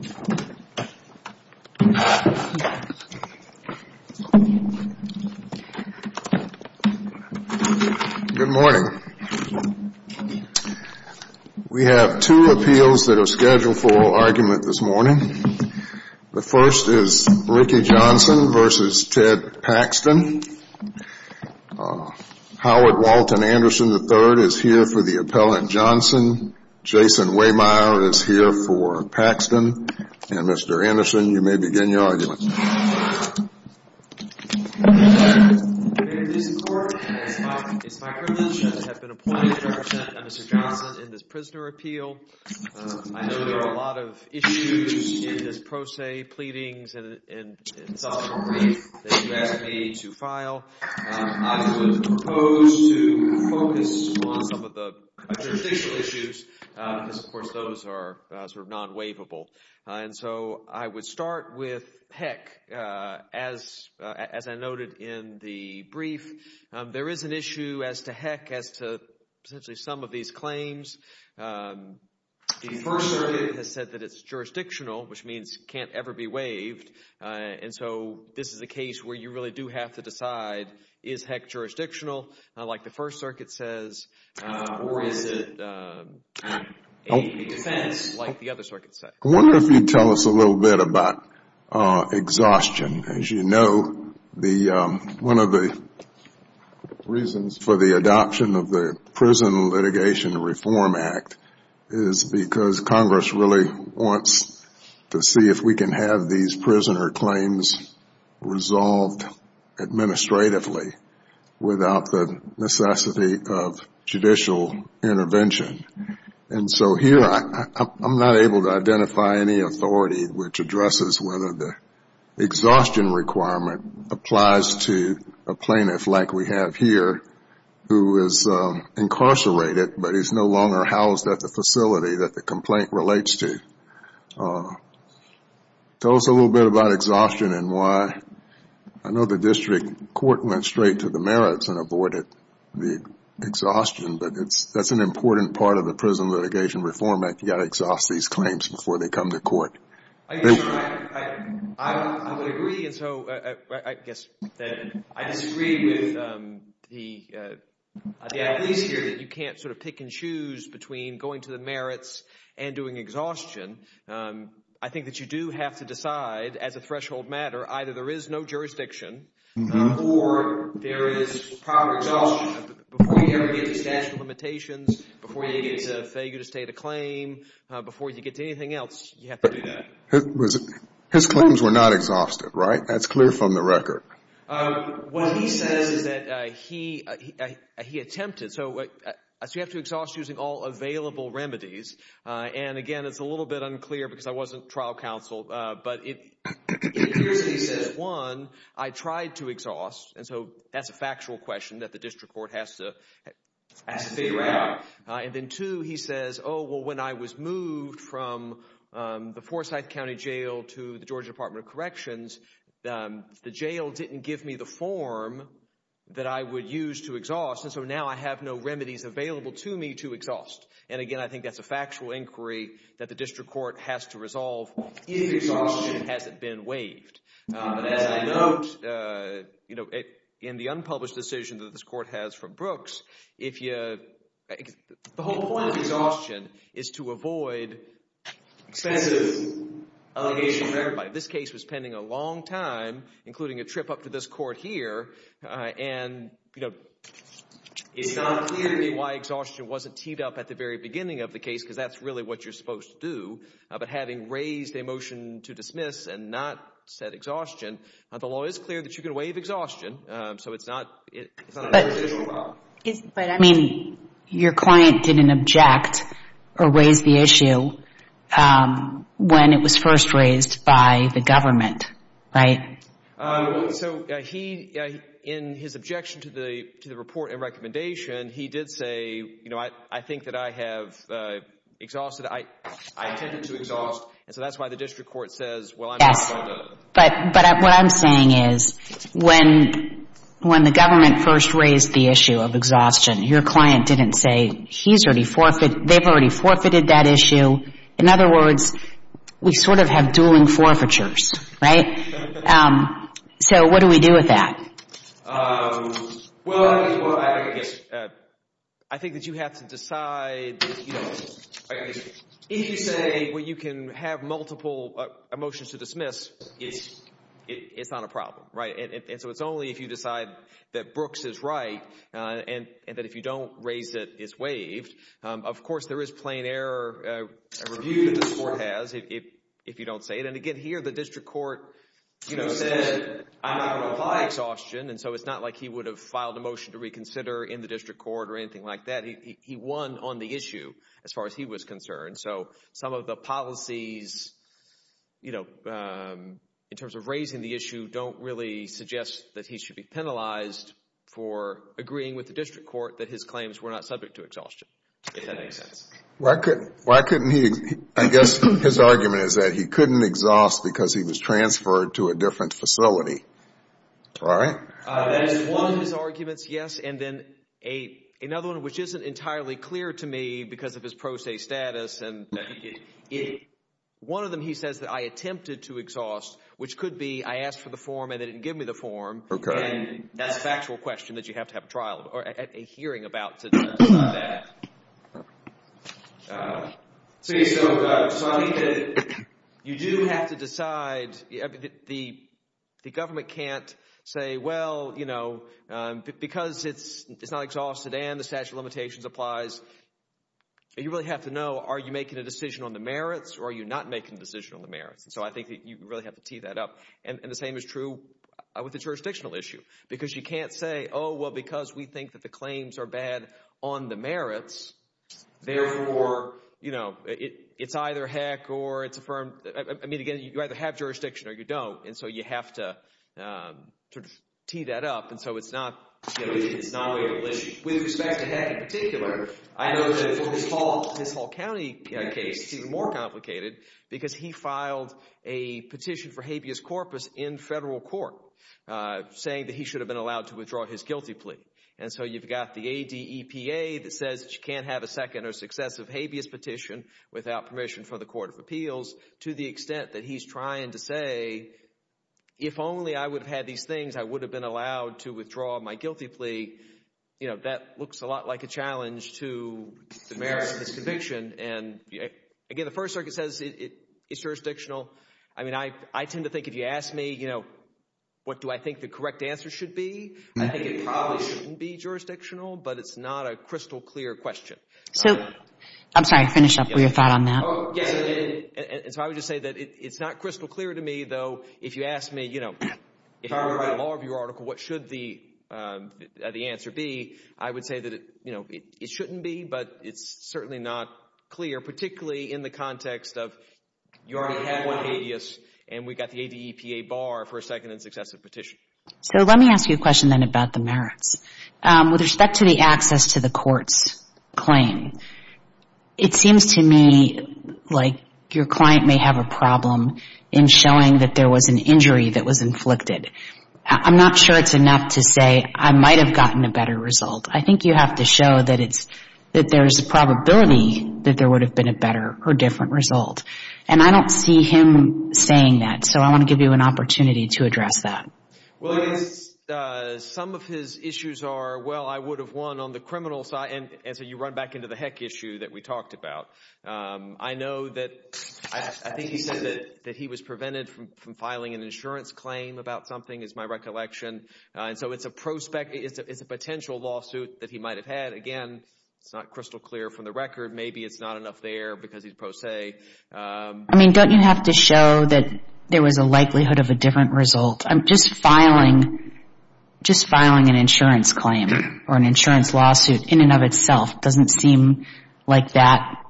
Good morning. We have two appeals that are scheduled for argument this morning. The first is Ricky Johnson v. Ted Paxton. Howard Walton Anderson III is here for the appellant Johnson. Jason Wehmeyer is here for Paxton. And Mr. Anderson, you may begin your argument. I'm going to start with HEC. As I noted in the brief, there is an issue as to HEC as to essentially some of these claims. The First Circuit has said that it's jurisdictional, which means it can't ever be waived. And so this is a case where you really do have to decide, is HEC jurisdictional, like the First Circuit says, or is it a defense, like the other circuits say? I wonder if you'd tell us a little bit about exhaustion. As you know, one of the reasons for the adoption of the Prison Litigation Reform Act is because Congress really wants to see if we can have these prisoner claims resolved administratively without the necessity of judicial intervention. And so here, I'm not able to identify any authority which addresses whether the exhaustion requirement applies to a plaintiff like we have here who is incarcerated but is no longer housed at the facility that the complaint relates to. Tell us a little bit about exhaustion and why. I know the district court went straight to the merits and avoided the exhaustion, but that's an important part of the Prison Litigation Reform Act. You've got to exhaust these claims before they come to court. I would agree. And so I guess that I disagree with the athletes here that you can't sort of pick and choose between going to the merits and doing exhaustion. I think that you do have to decide as a threshold matter, either there is no jurisdiction or there is proper exhaustion. Before you ever get to statute of limitations, before you get to failure to state a claim, before you get to anything else, you have to do that. His claims were not exhausted, right? That's clear from the record. What he says is that he attempted. So you have to exhaust using all available remedies. And again, it's a little bit unclear because I wasn't trial counsel, but it appears he says, one, I tried to exhaust, and so that's a factual question that the district court has to figure out. And then two, he says, oh, well, when I was moved from the Forsyth County Jail to the Georgia Department of Corrections, the jail didn't give me the form that I would use to exhaust, and so now I have no remedies available to me to exhaust. And again, I think that's a factual inquiry that the district court has to resolve if exhaustion hasn't been waived. But as I note, you know, in the unpublished decision that this court has from Brooks, if you, the whole point of exhaustion is to avoid expensive allegation for everybody. This case was pending a long time, including a trip up to this court here, and, you know, it's not clear to me why exhaustion wasn't teed up at the very beginning of the case because that's really what you're supposed to do. But having raised a motion to dismiss and not set exhaustion, the law is clear that you can waive exhaustion, so it's not a residual law. But, I mean, your client didn't object or raise the issue when it was first raised by the government, right? So he, in his objection to the report and recommendation, he did say, you know, I think that I have exhausted, I intended to exhaust, and so that's why the district court says, well, I'm not going to... Yes, but what I'm saying is when the government first raised the issue of exhaustion, your client didn't say, he's already forfeited, they've already forfeited that issue. In other words, we sort of have dueling forfeitures, right? So what do we do with that? Well, I guess, I think that you have to decide, you know, if you say, well, you can have multiple motions to dismiss, it's not a problem, right? And so it's only if you decide that Brooks is right, and that if you don't raise it, it's waived. Of course, there is plain error review that this court has if you don't say it. And again, here, the district court, you know, said, I'm not going to apply exhaustion, and so it's not like he would have filed a motion to reconsider in the district court or anything like that. He won on the issue as far as he was concerned. So some of the policies, you know, in terms of raising the issue don't really suggest that he should be penalized for agreeing with the district court that his claims were not subject to exhaustion, if that makes sense. Why couldn't he... I guess his argument is that he couldn't exhaust because he was transferred to a different facility, right? That is one of his arguments, yes. And then another one, which isn't entirely clear to me because of his pro se status, and one of them, he says that I attempted to exhaust, which could be I asked for the form and they didn't give me the form, and that's a factual question that you have to have a hearing about to decide that. So you do have to decide, the government can't say, well, you know, because it's not exhausted and the statute of limitations applies, you really have to know, are you making a decision on the merits or are you not making a decision on the merits? And so I think that you really have to tee that up. And the same is true with the jurisdictional issue, because you can't say, oh, well, because we think that the claims are bad on the merits, therefore, you know, it's either heck or it's affirmed. I mean, again, you either have jurisdiction or you don't, and so you have to sort of tee that up. And so it's not a legal issue. With respect to Heck in particular, I know that his Hall County case is even more complicated because he filed a petition for habeas corpus in federal court, saying that he should have been allowed to withdraw his guilty plea. And so you've got the ADEPA that says that you can't have a second or successive habeas petition without permission from the Court of Appeals, to the extent that he's trying to say, if only I would have had these things, I would have been allowed to withdraw my guilty plea. You know, that looks a lot like a challenge to the merits of his conviction. And again, the First Circuit says it's jurisdictional. I mean, I tend to think if you ask me, you know, what do I think the correct answer should be, I think it probably shouldn't be jurisdictional, but it's not a crystal clear question. So, I'm sorry, finish up with your thought on that. Yes, and so I would just say that it's not crystal clear to me, though, if you ask me, you know, if I were to write a law review article, what should the answer be, I would say that, you know, it shouldn't be, but it's certainly not clear, particularly in the context of you already have one habeas, and we've got the ADEPA bar for a second and successive petition. So let me ask you a question then about the merits. With respect to the access to the court's claim, it seems to me like your client may have a problem in showing that there was an injury that was inflicted. I'm not sure it's enough to say I might have gotten a better result. I think you have to show that there's a probability that there would have been a better or different result. And I don't see him saying that, so I want to give you an opportunity to address that. Well, some of his issues are, well, I would have won on the criminal side, and so you run back into the heck issue that we talked about. I know that, I think he said that he was prevented from filing an insurance claim about something, is my recollection, and so it's a prospect, it's a potential lawsuit that he might have had. Again, it's not crystal clear from the record. Maybe it's not enough there because he's pro se. I mean, don't you have to show that there was a likelihood of a different result? I'm just filing an insurance claim or an insurance lawsuit in and of itself doesn't seem like that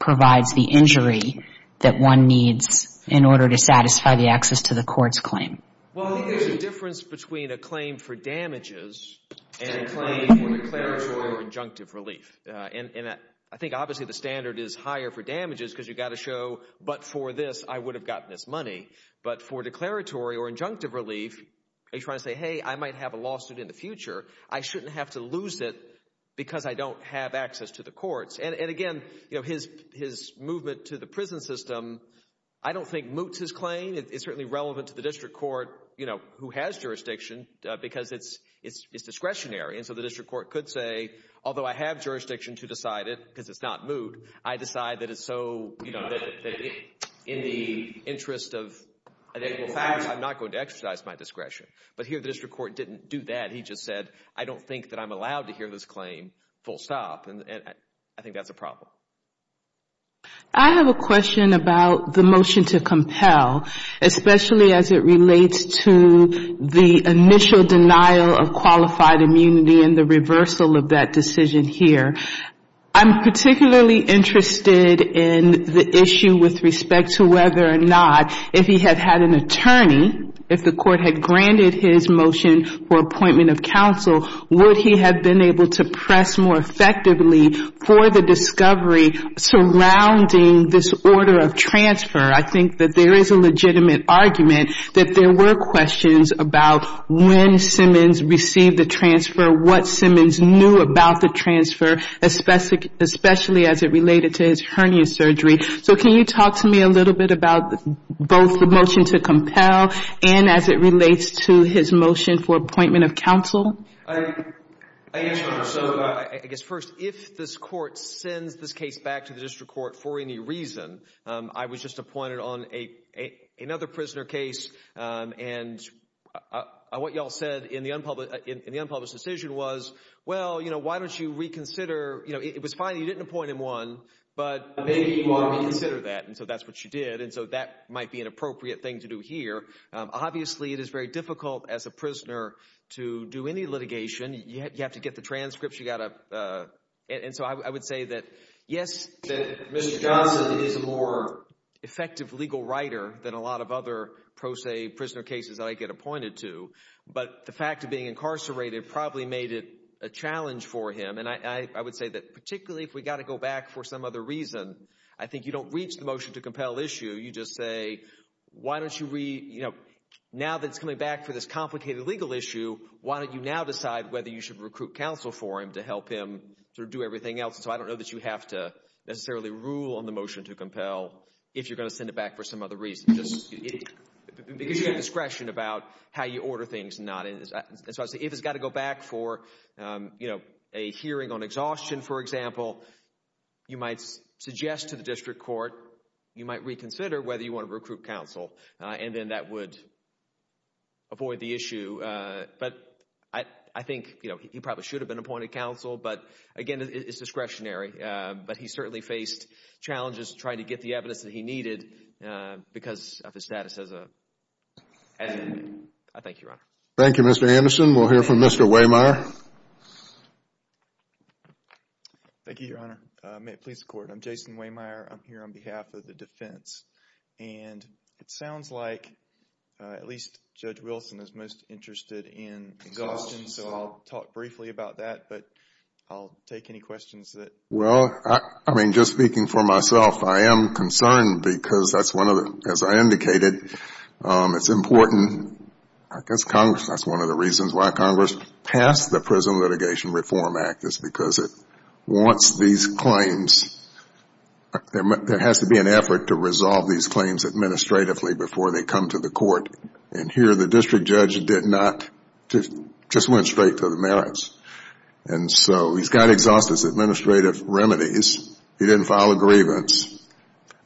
provides the injury that one needs in order to satisfy the access to the court's claim. Well, I think there's a difference between a claim for damages and a claim for declaratory or injunctive relief. And I think, obviously, the standard is higher for damages because you've got to show, but for this, I would have gotten this money. But for declaratory or injunctive relief, are you trying to say, hey, I might have a lawsuit in the future. I shouldn't have to lose it because I don't have access to the courts. And again, his movement to the prison system, I don't think moots his claim. It's certainly relevant to the district court, you know, who has jurisdiction because it's discretionary. And so the district court could say, although I have jurisdiction to decide it because it's not moot, I decide that it's so, you know, in the interest of facts, I'm not going to exercise my discretion. But here, the district court didn't do that. He just said, I don't think that I'm allowed to hear this claim full stop. And I think that's a problem. I have a question about the motion to compel, especially as it relates to the initial denial of qualified immunity and the reversal of that decision here. I'm particularly interested in the issue with respect to whether or not, if he had had an attorney, if the court had granted his motion for appointment of counsel, would he have been able to press more effectively for the discovery surrounding this order of transfer? I think that there is a legitimate argument that there were questions about when Simmons received the transfer, what Simmons knew about the transfer, especially as it related to his hernia surgery. So can you talk to me a little bit about both the motion to compel and as it relates to his motion for appointment of counsel? I guess, first, if this court sends this case back to the district court for any reason, I was just appointed on another prisoner case. And what you all said in the unpublished decision was, well, why don't you reconsider? It was fine that you didn't appoint him one, but maybe you ought to reconsider that. And so that's what you did. And so that might be an appropriate thing to do here. Obviously, it is very difficult as a prisoner to do any litigation. You have to get the transcripts. You got to... And so I would say that, yes, Mr. Johnson is a more effective legal writer than a lot of other, pro se, prisoner cases that I get appointed to. But the fact of being incarcerated probably made it a challenge for him. And I would say that particularly if we got to go back for some other reason, I think you don't reach the motion to compel issue. You just say, why don't you re... Now that it's coming back for this complicated legal issue, why don't you now decide whether you should recruit counsel for him to help him do everything else? So I don't know that you have to necessarily rule on the motion to compel if you're going to send it back for some other reason. Just because you have discretion about how you order things and not... And so I would say if it's got to go back for, you know, a hearing on exhaustion, for example, you might suggest to the district court, you might reconsider whether you want to recruit counsel. And then that would avoid the issue. But I think, you know, he probably should have been appointed counsel. But again, it's discretionary. But he certainly faced challenges trying to get the evidence that he needed because of his status as a... I thank you, Your Honor. Thank you, Mr. Anderson. We'll hear from Mr. Wehmeyer. Thank you, Your Honor. May it please the Court. I'm Jason Wehmeyer. I'm here on behalf of the defense. And it sounds like at least Judge Wilson is most interested in exhaustion. So I'll talk briefly about that. But I'll take any questions that... Well, I mean, just speaking for myself, I am concerned because that's one of the... As I indicated, it's important. I guess Congress... That's one of the reasons why Congress passed the Prison Litigation Reform Act is because it wants these claims. There has to be an effort to resolve these claims administratively before they come to the court. And here the district judge did not... Just went straight to the merits. And so he's got exhaustive administrative remedies. He didn't file a grievance.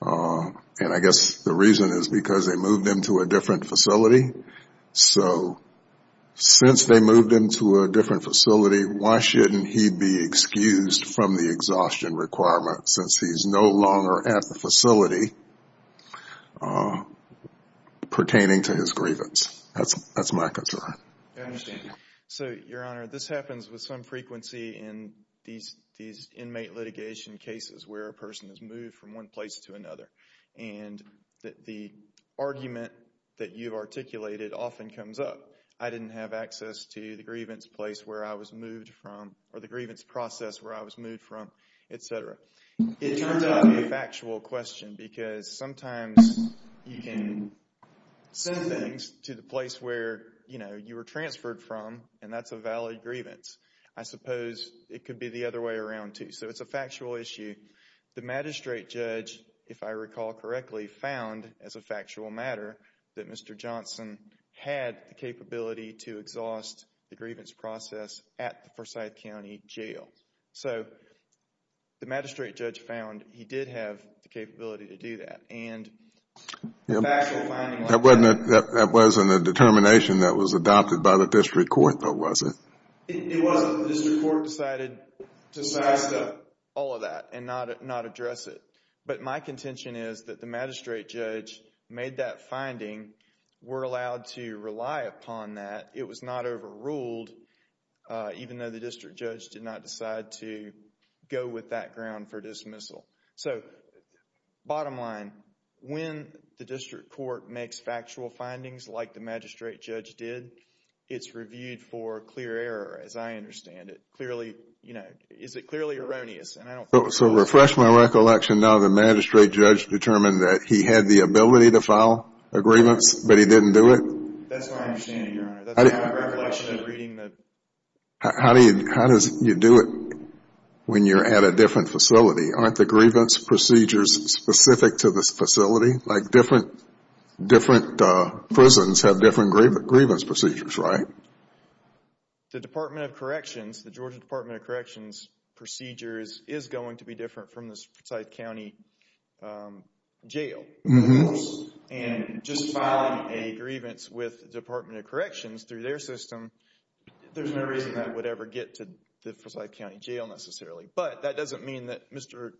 And I guess the reason is because they moved him to a different facility. So since they moved him to a different facility, why shouldn't he be excused from the exhaustion requirement since he's no longer at the facility pertaining to his grievance? That's my concern. I understand. So, Your Honor, this happens with some frequency in these inmate litigation cases where a person is moved from one place to another. And the argument that you've articulated often comes up. I didn't have access to the grievance place where I was moved from or the grievance process where I was moved from, etc. It turns out to be a factual question because sometimes you can send things to the place where, you know, you were transferred from and that's a valid grievance. I suppose it could be the other way around too. So it's a factual issue. The magistrate judge, if I recall correctly, found as a factual matter that Mr. Johnson had the capability to exhaust the grievance process at the Forsyth County Jail. So the magistrate judge found he did have the capability to do that and a factual finding like that... That wasn't a determination that was adopted by the district court, though, was it? It wasn't. The district court decided to size up all of that and not address it. But my contention is that the magistrate judge made that finding. We're allowed to rely upon that. It was not overruled, even though the district judge did not decide to go with that ground for dismissal. So, bottom line, when the district court makes factual findings like the magistrate judge did, it's reviewed for clear error as I understand it. Clearly, you know, is it clearly erroneous? So to refresh my recollection, now the magistrate judge determined that he had the ability to file a grievance, but he didn't do it? That's my understanding, Your Honor. That's my recollection of reading the... How do you do it when you're at a different facility? Aren't the grievance procedures specific to this facility? Like different prisons have different grievance procedures, right? The Department of Corrections, the Georgia Department of Corrections procedures is going to be different from the Forsyth County Jail. And just filing a grievance with the Department of Corrections through their system, there's no reason that would ever get to the Forsyth County Jail necessarily. But that doesn't mean that Mr.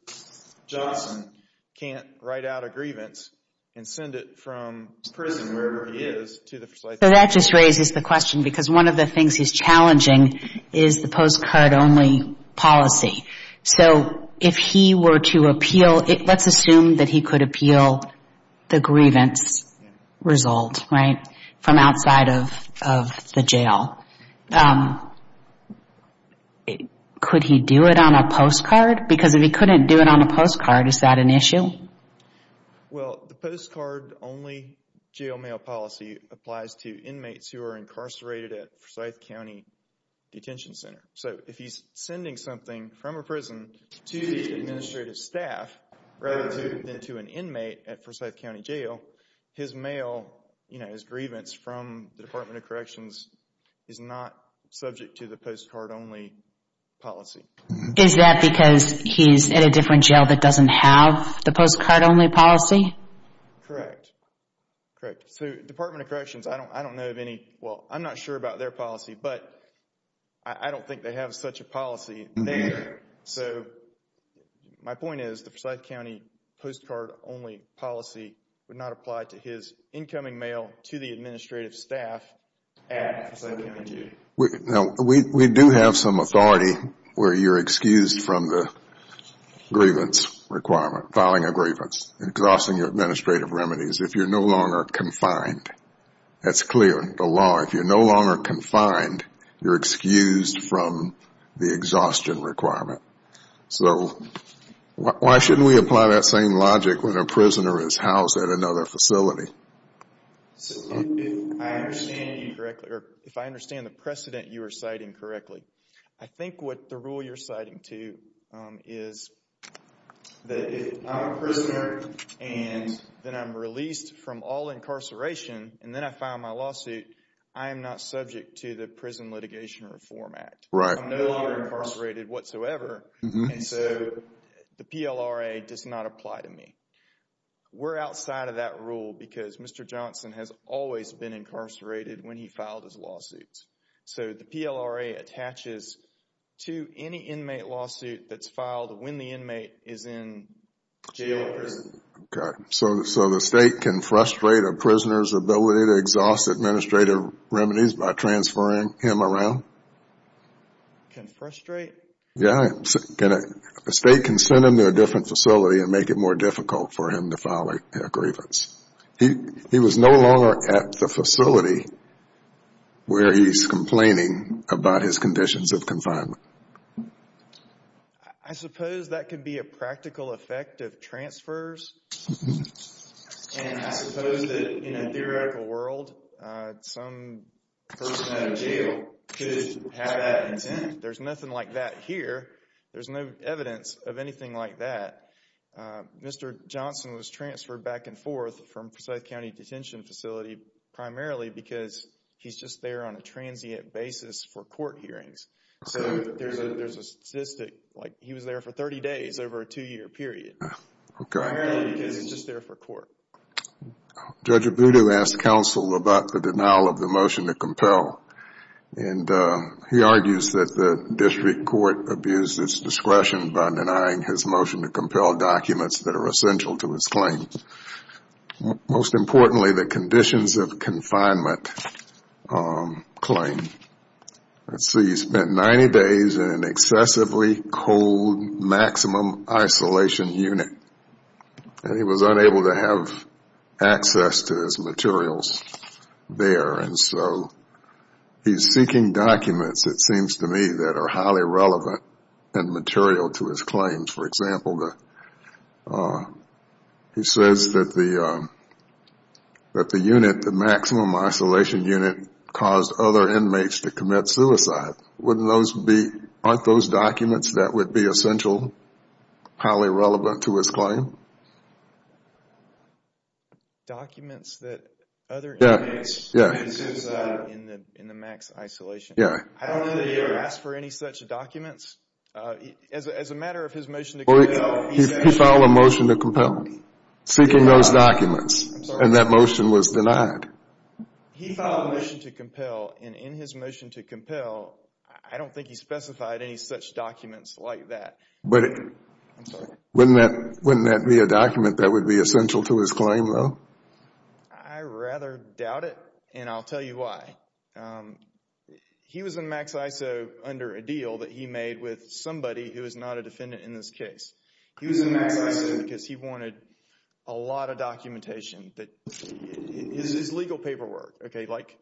Johnson can't write out a grievance and send it from prison, wherever he is, to the Forsyth County Jail. So that just raises the question because one of the things he's challenging is the postcard only policy. So if he were to appeal... let's assume that he could appeal the grievance result, right, from outside of the jail. Could he do it on a postcard? Because if he couldn't do it on a postcard, is that an issue? Well, the postcard only jail mail policy applies to inmates who are incarcerated at Forsyth County Detention Center. So if he's sending something from a prison to the administrative staff rather than to an inmate at Forsyth County Jail, his mail, you know, his grievance from the Department of Corrections is not subject to the postcard only policy. Is that because he's in a different jail that doesn't have the postcard only policy? Correct. Correct. So Department of Corrections, I don't know of any... well, I'm not sure about their policy, but I don't think they have such a policy there. So my point is the Forsyth County postcard only policy would not apply to his incoming mail to the administrative staff at Forsyth County Jail. Now, we do have some authority where you're excused from the grievance requirement, filing a grievance, exhausting your administrative remedies if you're no longer confined. That's clear in the law. If you're no longer confined, you're excused from the exhaustion requirement. So why shouldn't we apply that same logic when a prisoner is housed at another facility? So if I understand you correctly, or if I understand the precedent you are citing correctly, I think what the rule you're citing to is that if I'm a prisoner and then I'm released from all incarceration and then I file my lawsuit, I am not subject to the Prison Litigation Reform Act. I'm no longer incarcerated whatsoever, and so the PLRA does not apply to me. We're outside of that rule because Mr. Johnson has always been incarcerated when he filed his lawsuits. So the PLRA attaches to any inmate lawsuit that's filed when the inmate is in jail or prison. So the state can frustrate a prisoner's ability to exhaust administrative remedies by transferring him around? Can frustrate? Yeah. A state can send him to a different facility and make it more difficult for him to file a grievance. He was no longer at the facility where he's complaining about his conditions of confinement. I suppose that could be a practical effect of transfers, and I suppose that in a theoretical world, some person out of jail could have that intent. There's nothing like that here. There's no evidence of anything like that. Mr. Johnson was transferred back and forth from South County Detention Facility primarily because he's just there on a transient basis for court hearings. So there's a statistic like he was there for 30 days over a two-year period, primarily because he's just there for court. Judge Abudu asked counsel about the denial of the motion to compel, and he argues that the district court abuses discretion by denying his motion to compel documents that are essential to his claim. Most importantly, the conditions of confinement claim. Let's see. He spent 90 days in an excessively cold maximum isolation unit, and he was unable to have access to his materials there. So he's seeking documents, it seems to me, that are highly relevant and material to his claims. For example, he says that the unit, the maximum isolation unit, is a suicide. Aren't those documents that would be essential, highly relevant to his claim? Documents that other inmates would be suicidal in the max isolation? Yeah. I don't know that he ever asked for any such documents. As a matter of his motion to compel... He filed a motion to compel, seeking those documents, and that motion was denied. He filed a motion to compel, and in his motion to compel, I don't think he specified any such documents like that. But wouldn't that be a document that would be essential to his claim, though? I rather doubt it, and I'll tell you why. He was in max iso under a deal that he made with somebody who is not a defendant in this case. He was in max iso because he wanted a lot of documentation. His legal paperwork, okay, like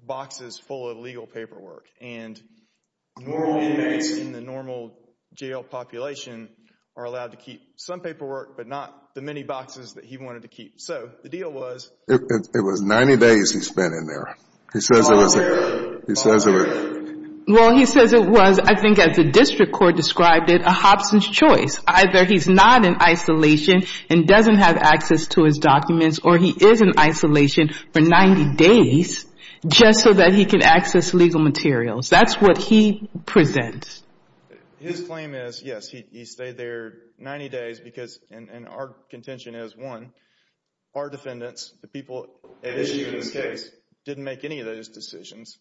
boxes full of legal paperwork, and normal inmates in the normal jail population are allowed to keep some paperwork, but not the many boxes that he wanted to keep. So the deal was... It was 90 days he spent in there. He says it was... All day, all day. Well, he says it was, I think as the district court described it, a Hobson's choice. Either he's not in isolation and doesn't have access to his documents, or he is in isolation for 90 days just so that he can access legal materials. That's what he presents. His claim is, yes, he stayed there 90 days because, and our contention is, one, our defendants, the people at issue in this case, didn't make any of those decisions.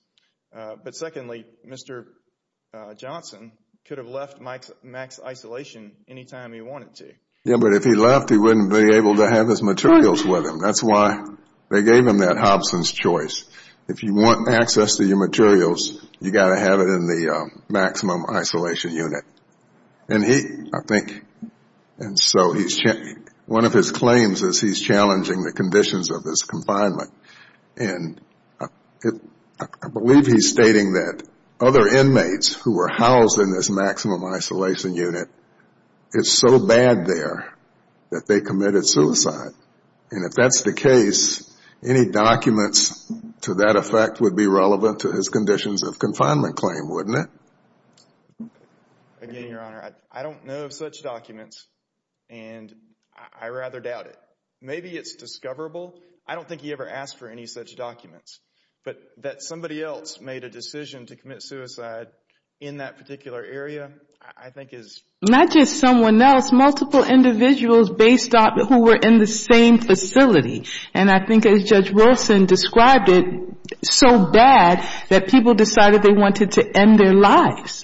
But secondly, Mr. Johnson could have left max isolation any time he wanted to. Yes, but if he left, he wouldn't be able to have his materials with him. That's why they gave him that Hobson's choice. If you want access to your materials, you've got to have it in the maximum isolation unit. And he, I think, and so he's... One of his claims is he's challenging the conditions of his confinement. And I believe he's stating that other inmates who were housed in this maximum isolation unit, it's so bad there that they committed suicide. And if that's the case, any documents to that effect would be relevant to his conditions of confinement claim, wouldn't it? Again, Your Honor, I don't know of such documents and I rather doubt it. Maybe it's discoverable. I don't think he ever asked for any such documents. But that somebody else made a decision to commit suicide in that particular area, I think is... Not just someone else, multiple individuals based on who were in the same facility. And I think as Judge Wilson described it, so bad that people decided they wanted to end their lives.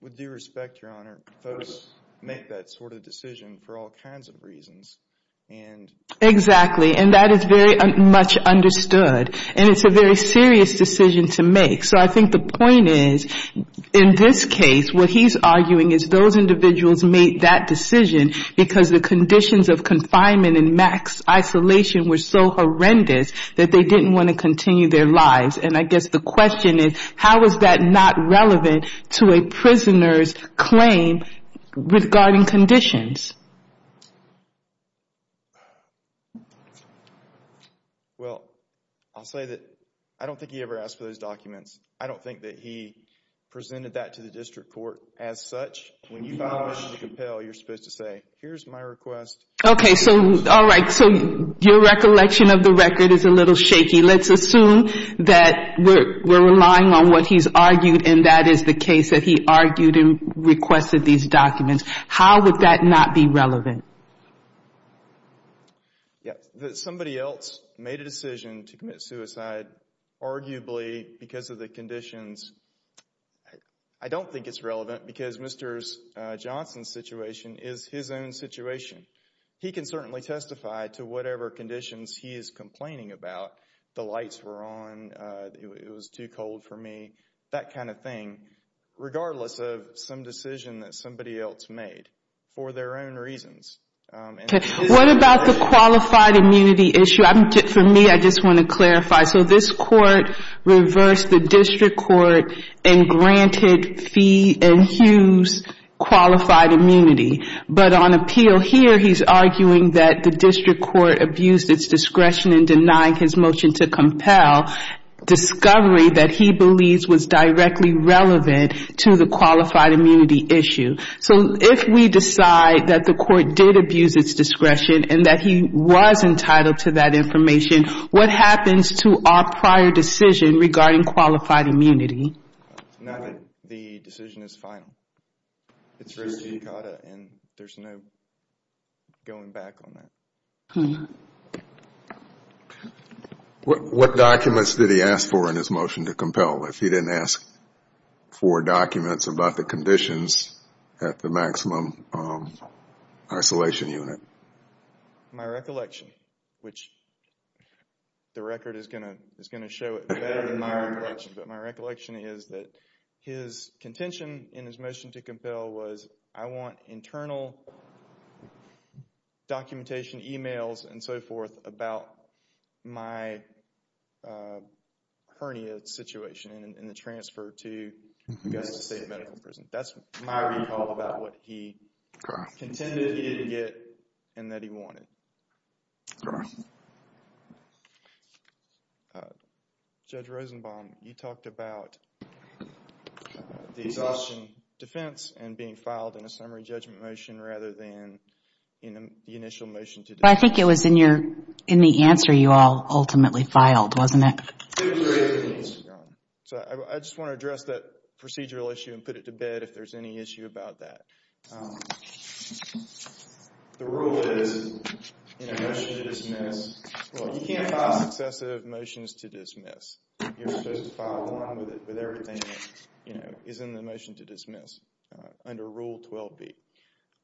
With due respect, Your Honor, folks make that sort of decision for all kinds of reasons. Exactly. And that is very much understood. And it's a very serious decision to make. So I think the point is, in this case, what he's arguing is those individuals made that decision because the conditions of confinement and max isolation were so horrendous that they didn't want to continue their lives. And I guess the question is, how is that not relevant to a prisoner's claim regarding conditions? Well, I'll say that I don't think he ever asked for those documents. I don't think that he presented that to the district court as such. When you file a mission to compel, you're supposed to say, here's my request. Okay. So, all right. So your recollection of the record is a little shaky. Let's assume that we're relying on what he's argued, and that is the case that he argued and requested these documents. How would that not be relevant? Yeah. That somebody else made a decision to commit suicide, arguably because of the conditions, I don't think it's relevant because Mr. Johnson's situation is his own situation. He can certainly testify to whatever conditions he is complaining about. The lights were on. It was too cold for me. That kind of thing, regardless of some decision that somebody else made for their own reasons. Okay. What about the qualified immunity issue? For me, I just want to clarify. So this court reversed the district court and granted Fee and Hughes qualified immunity. But on appeal here, he's arguing that the district court abused its discretion in denying his motion to compel, discovery that he believes was directly relevant to the qualified immunity issue. So if we decide that the court did abuse its discretion and that he was entitled to that information, what happens to our prior decision regarding qualified immunity? The decision is final. There's no going back on that. What documents did he ask for in his motion to compel? If he didn't ask for documents about the conditions at the maximum isolation unit? My recollection, which the record is going to show it better than my recollection, but my recollection is that his contention in his motion to compel was I want internal documentation, emails and so forth about my hernia situation and the transfer to Augusta State Medical Center. That's my recall about what he contended he didn't get and that he wanted. Judge Rosenbaum, you talked about the exhaustion defense and being filed in a summary judgment motion rather than in the initial motion to defend. I think it was in the answer you all ultimately filed, wasn't it? It was written in the answer, Your Honor. So I just want to address that procedural issue and put it to bed if there's any issue about that. The rule is in a motion to dismiss, well, you can't file successive motions to dismiss. You're supposed to file one with everything that is in the motion to dismiss under Rule 12b.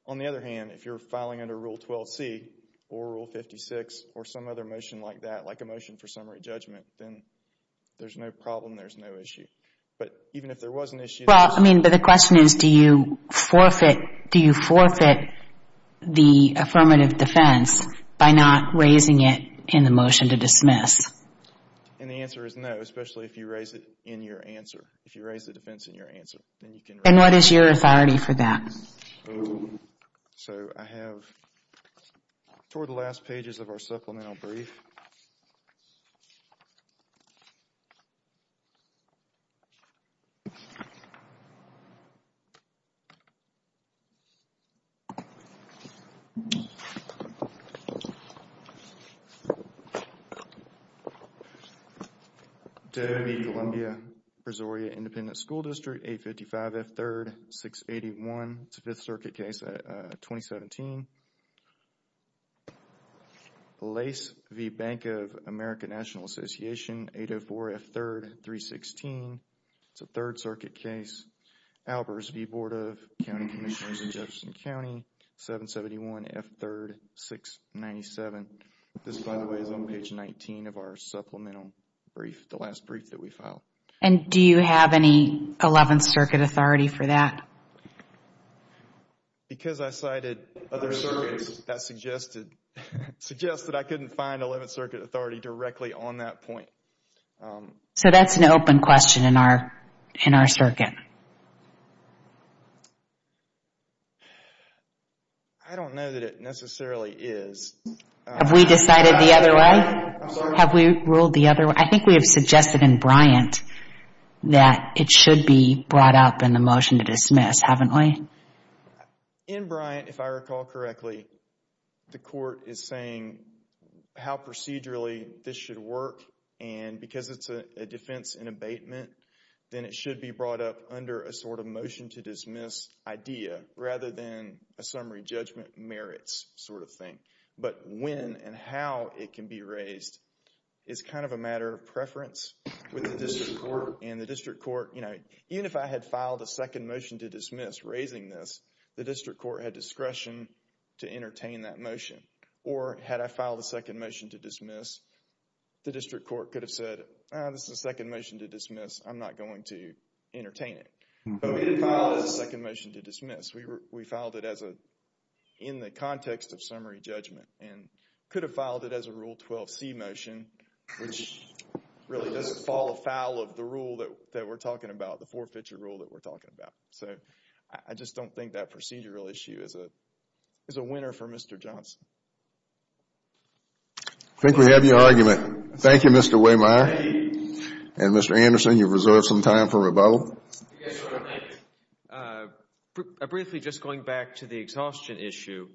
On the other hand, if you're filing under Rule 12c or Rule 56 or some other motion like that, like a motion for summary judgment, then there's no problem, there's no issue. But even if there was an issue... Well, I mean, but the question is, do you forfeit the affirmative defense by not raising it in the motion to dismiss? And the answer is no, especially if you raise it in your answer, if you raise the defense in your answer, then you can... And what is your authority for that? So I have toward the last pages of our supplemental brief. David B. Columbia, Presoria Independent School District, 855 F. 3rd, 681. It's a Fifth Circuit case, 2017. Lace v. Bank of America National Association, 804 F. 3rd, 316. It's a Third Circuit case. Albers v. Board of County Commissioners in Jefferson County, 771 F. 3rd, 697. This, by the way, is on page 19 of our supplemental brief, the last brief that we filed. And do you have any Eleventh Circuit authority for that? Because I cited other circuits that suggested, suggest that I couldn't find Eleventh Circuit authority directly on that point. So that's an open question in our, in our circuit. I don't know that it necessarily is. Have we decided the other way? I'm sorry? Have we ruled the other way? I think we have suggested in Bryant that it should be brought up in the motion to dismiss, haven't we? In Bryant, if I recall correctly, the court is saying how procedurally this should work and because it's a defense in abatement, then it should be brought up under a sort of motion to dismiss idea rather than a summary judgment merits sort of thing. But when and how it can be raised is kind of a matter of preference with the district court and the district court, you know, even if I had filed a second motion to dismiss raising this, the district court had discretion to entertain that motion. Or had I filed a second motion to dismiss, the district court could have said, this is a second motion to dismiss. I'm not going to entertain it. But we didn't file it as a second motion to dismiss. We filed it as a, in the context of summary judgment and could have filed it as a Rule 12c motion, which really does fall afoul of the rule that we're talking about, the four-feature rule that we're talking about. So, I just don't think that procedural issue is a winner for Mr. Johnson. I think we have your argument. Thank you, Mr. Waymeyer. And Mr. Anderson, you've reserved some time for rebuttal. Yes, Your Honor. Briefly, just going back to the exhaustion issue,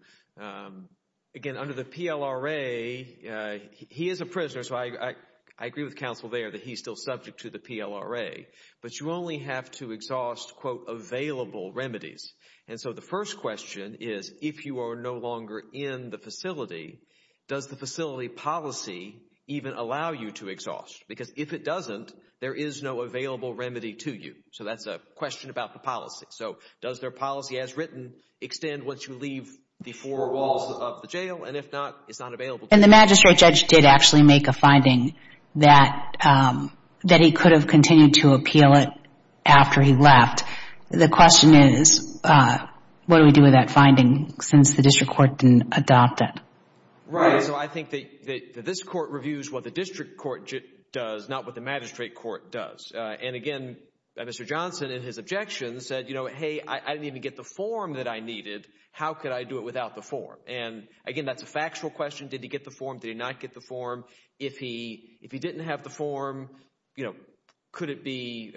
again, under the PLRA, he is a prisoner, so I agree with counsel there that he's still subject to the PLRA. But you only have to exhaust, quote, available remedies. And so, the first question is, if you are no longer in the facility, does the facility policy even allow you to exhaust? Because if it doesn't, there is no available remedy to you. So, that's a question about the policy. So, does their policy as written extend once you leave the four walls of the jail? And if not, it's not available to you. And the magistrate judge did actually make a finding that he could have continued to appeal it after he left. The question is, what do we do with that finding since the district court didn't adopt it? Right. So, I think that this court reviews what the district court does, not what the magistrate court does. And again, Mr. Johnson, in his objection, said, you know, hey, I didn't even get the form that I needed. How could I do it without the form? And again, that's a factual question. Did he get the form? Did he not get the form? If he didn't have the form, you know, could it be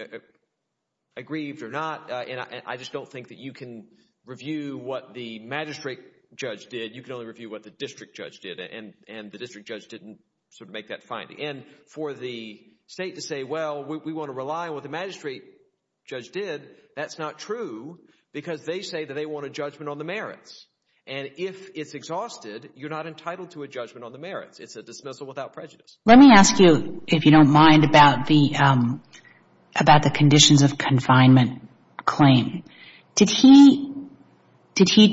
aggrieved or not? And I just don't think that you can review what the magistrate judge did. You can only review what the district judge did. And the district judge didn't sort of make that finding. And for the state to say, well, we want to rely on what the magistrate judge did, that's not true because they say that they want a judgment on the merits. And if it's exhausted, you're not entitled to a judgment on the merits. It's a dismissal without prejudice. Let me ask you, if you don't mind, about the conditions of confinement claim. Did he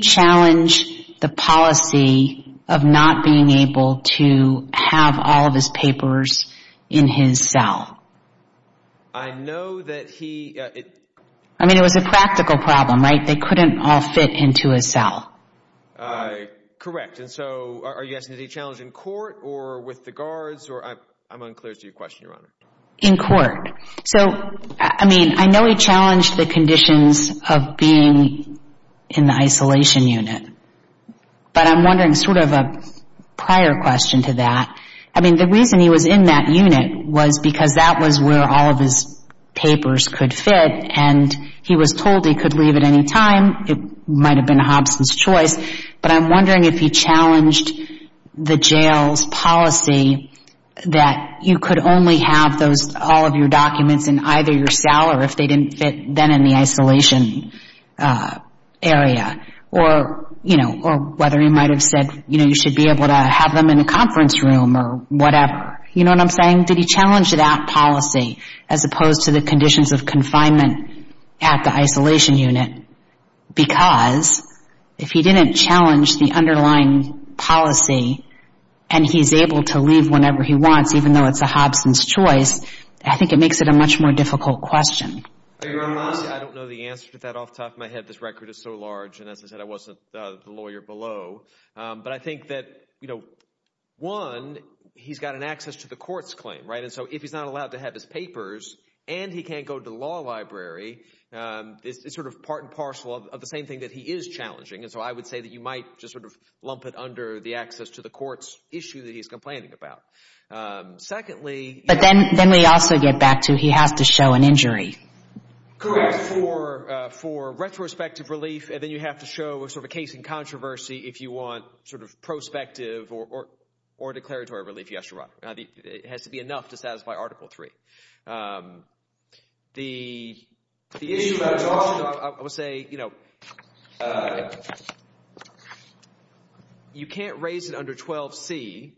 challenge the policy of not being able to have all of his papers in his cell? I know that he... I mean, it was a practical problem, right? They couldn't all fit into a cell. Correct. And so, are you asking, is he challenged in court or with the guards or... I'm unclear as to your question, Your Honor. In court. So, I mean, I know he challenged the conditions of being in the isolation unit. But I'm wondering sort of a prior question to that. I mean, the reason he was in that unit was because that was where all of his papers could fit. And he was told he could leave at any time. It might have been Hobson's choice. But I'm wondering if he challenged the jail's policy that you could only have all of your documents in either your cell or if they or whether he might have said, you know, you should be able to have them in a conference room or whatever. You know what I'm saying? Did he challenge that policy as opposed to the conditions of confinement at the isolation unit? Because if he didn't challenge the underlying policy and he's able to leave whenever he wants, even though it's a Hobson's choice, I think it makes it a much more difficult question. Your Honor, I don't know the answer to that off the top of my head. This record is so large. And as I said, I wasn't the lawyer below. But I think that, you know, one, he's got an access to the court's claim, right? And so if he's not allowed to have his papers and he can't go to the law library, it's sort of part and parcel of the same thing that he is challenging. And so I would say that you might just sort of lump it under the access to the court's issue that he's complaining about. Secondly... But then we also get back to he has to show an injury. Correct. For retrospective relief. And then you have to show a sort of a case in controversy if you want sort of prospective or declaratory relief. Yes, Your Honor. It has to be enough to satisfy Article 3. The issue... I would say, you know, you can't raise it under 12C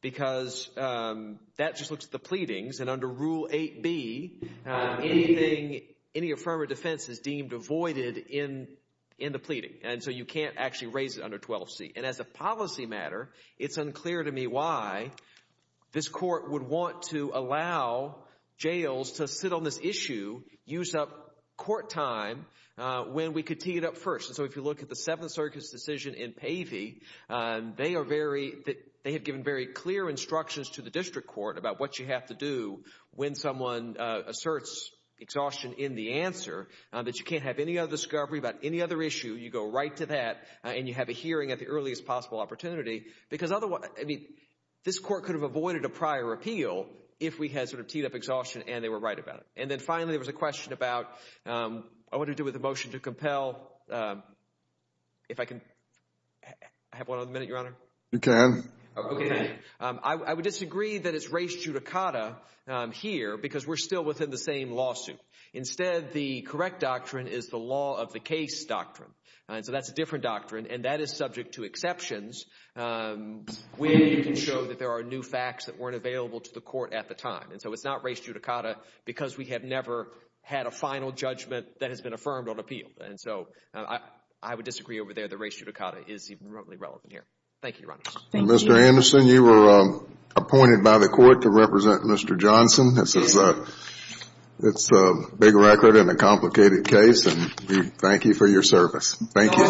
because that just looks at the pleadings. And under Rule 8B, anything, any affirmative defense is deemed avoided in the pleading. And so you can't actually raise it under 12C. And as a policy matter, it's unclear to me why this court would want to allow jails to sit on this issue, use up court time when we could tee it up first. And so if you look at the Seventh Circuit's decision in Pavey, they are very... They have given very clear instructions to the district court about what you have to do when someone asserts exhaustion in the answer, that you can't have any other discovery about any other issue. You go right to that and you have a hearing at the earliest possible opportunity. Because otherwise, I mean, this court could have avoided a prior appeal if we had sort of teed up exhaustion and they were right about it. And then finally, there was a question about... I want to do with the motion to compel. If I can have one other minute, Your Honor. You can. Okay. I would disagree that it's res judicata here because we're still within the same lawsuit. Instead, the correct doctrine is the law of the case doctrine. And so that's a different doctrine and that is subject to exceptions where you can show that there are new facts that weren't available to the court at the time. And so it's not res judicata because we have never had a final judgment that has been affirmed on appeal. And so I would disagree over there that res judicata is even remotely relevant here. Thank you, Your Honor. Thank you. Mr. Anderson, you were appointed by the court to represent Mr. Johnson. It's a big record and a complicated case and we thank you for your service. Thank you.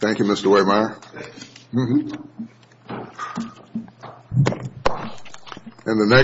Thank you, Mr. Wehmeyer. And the next...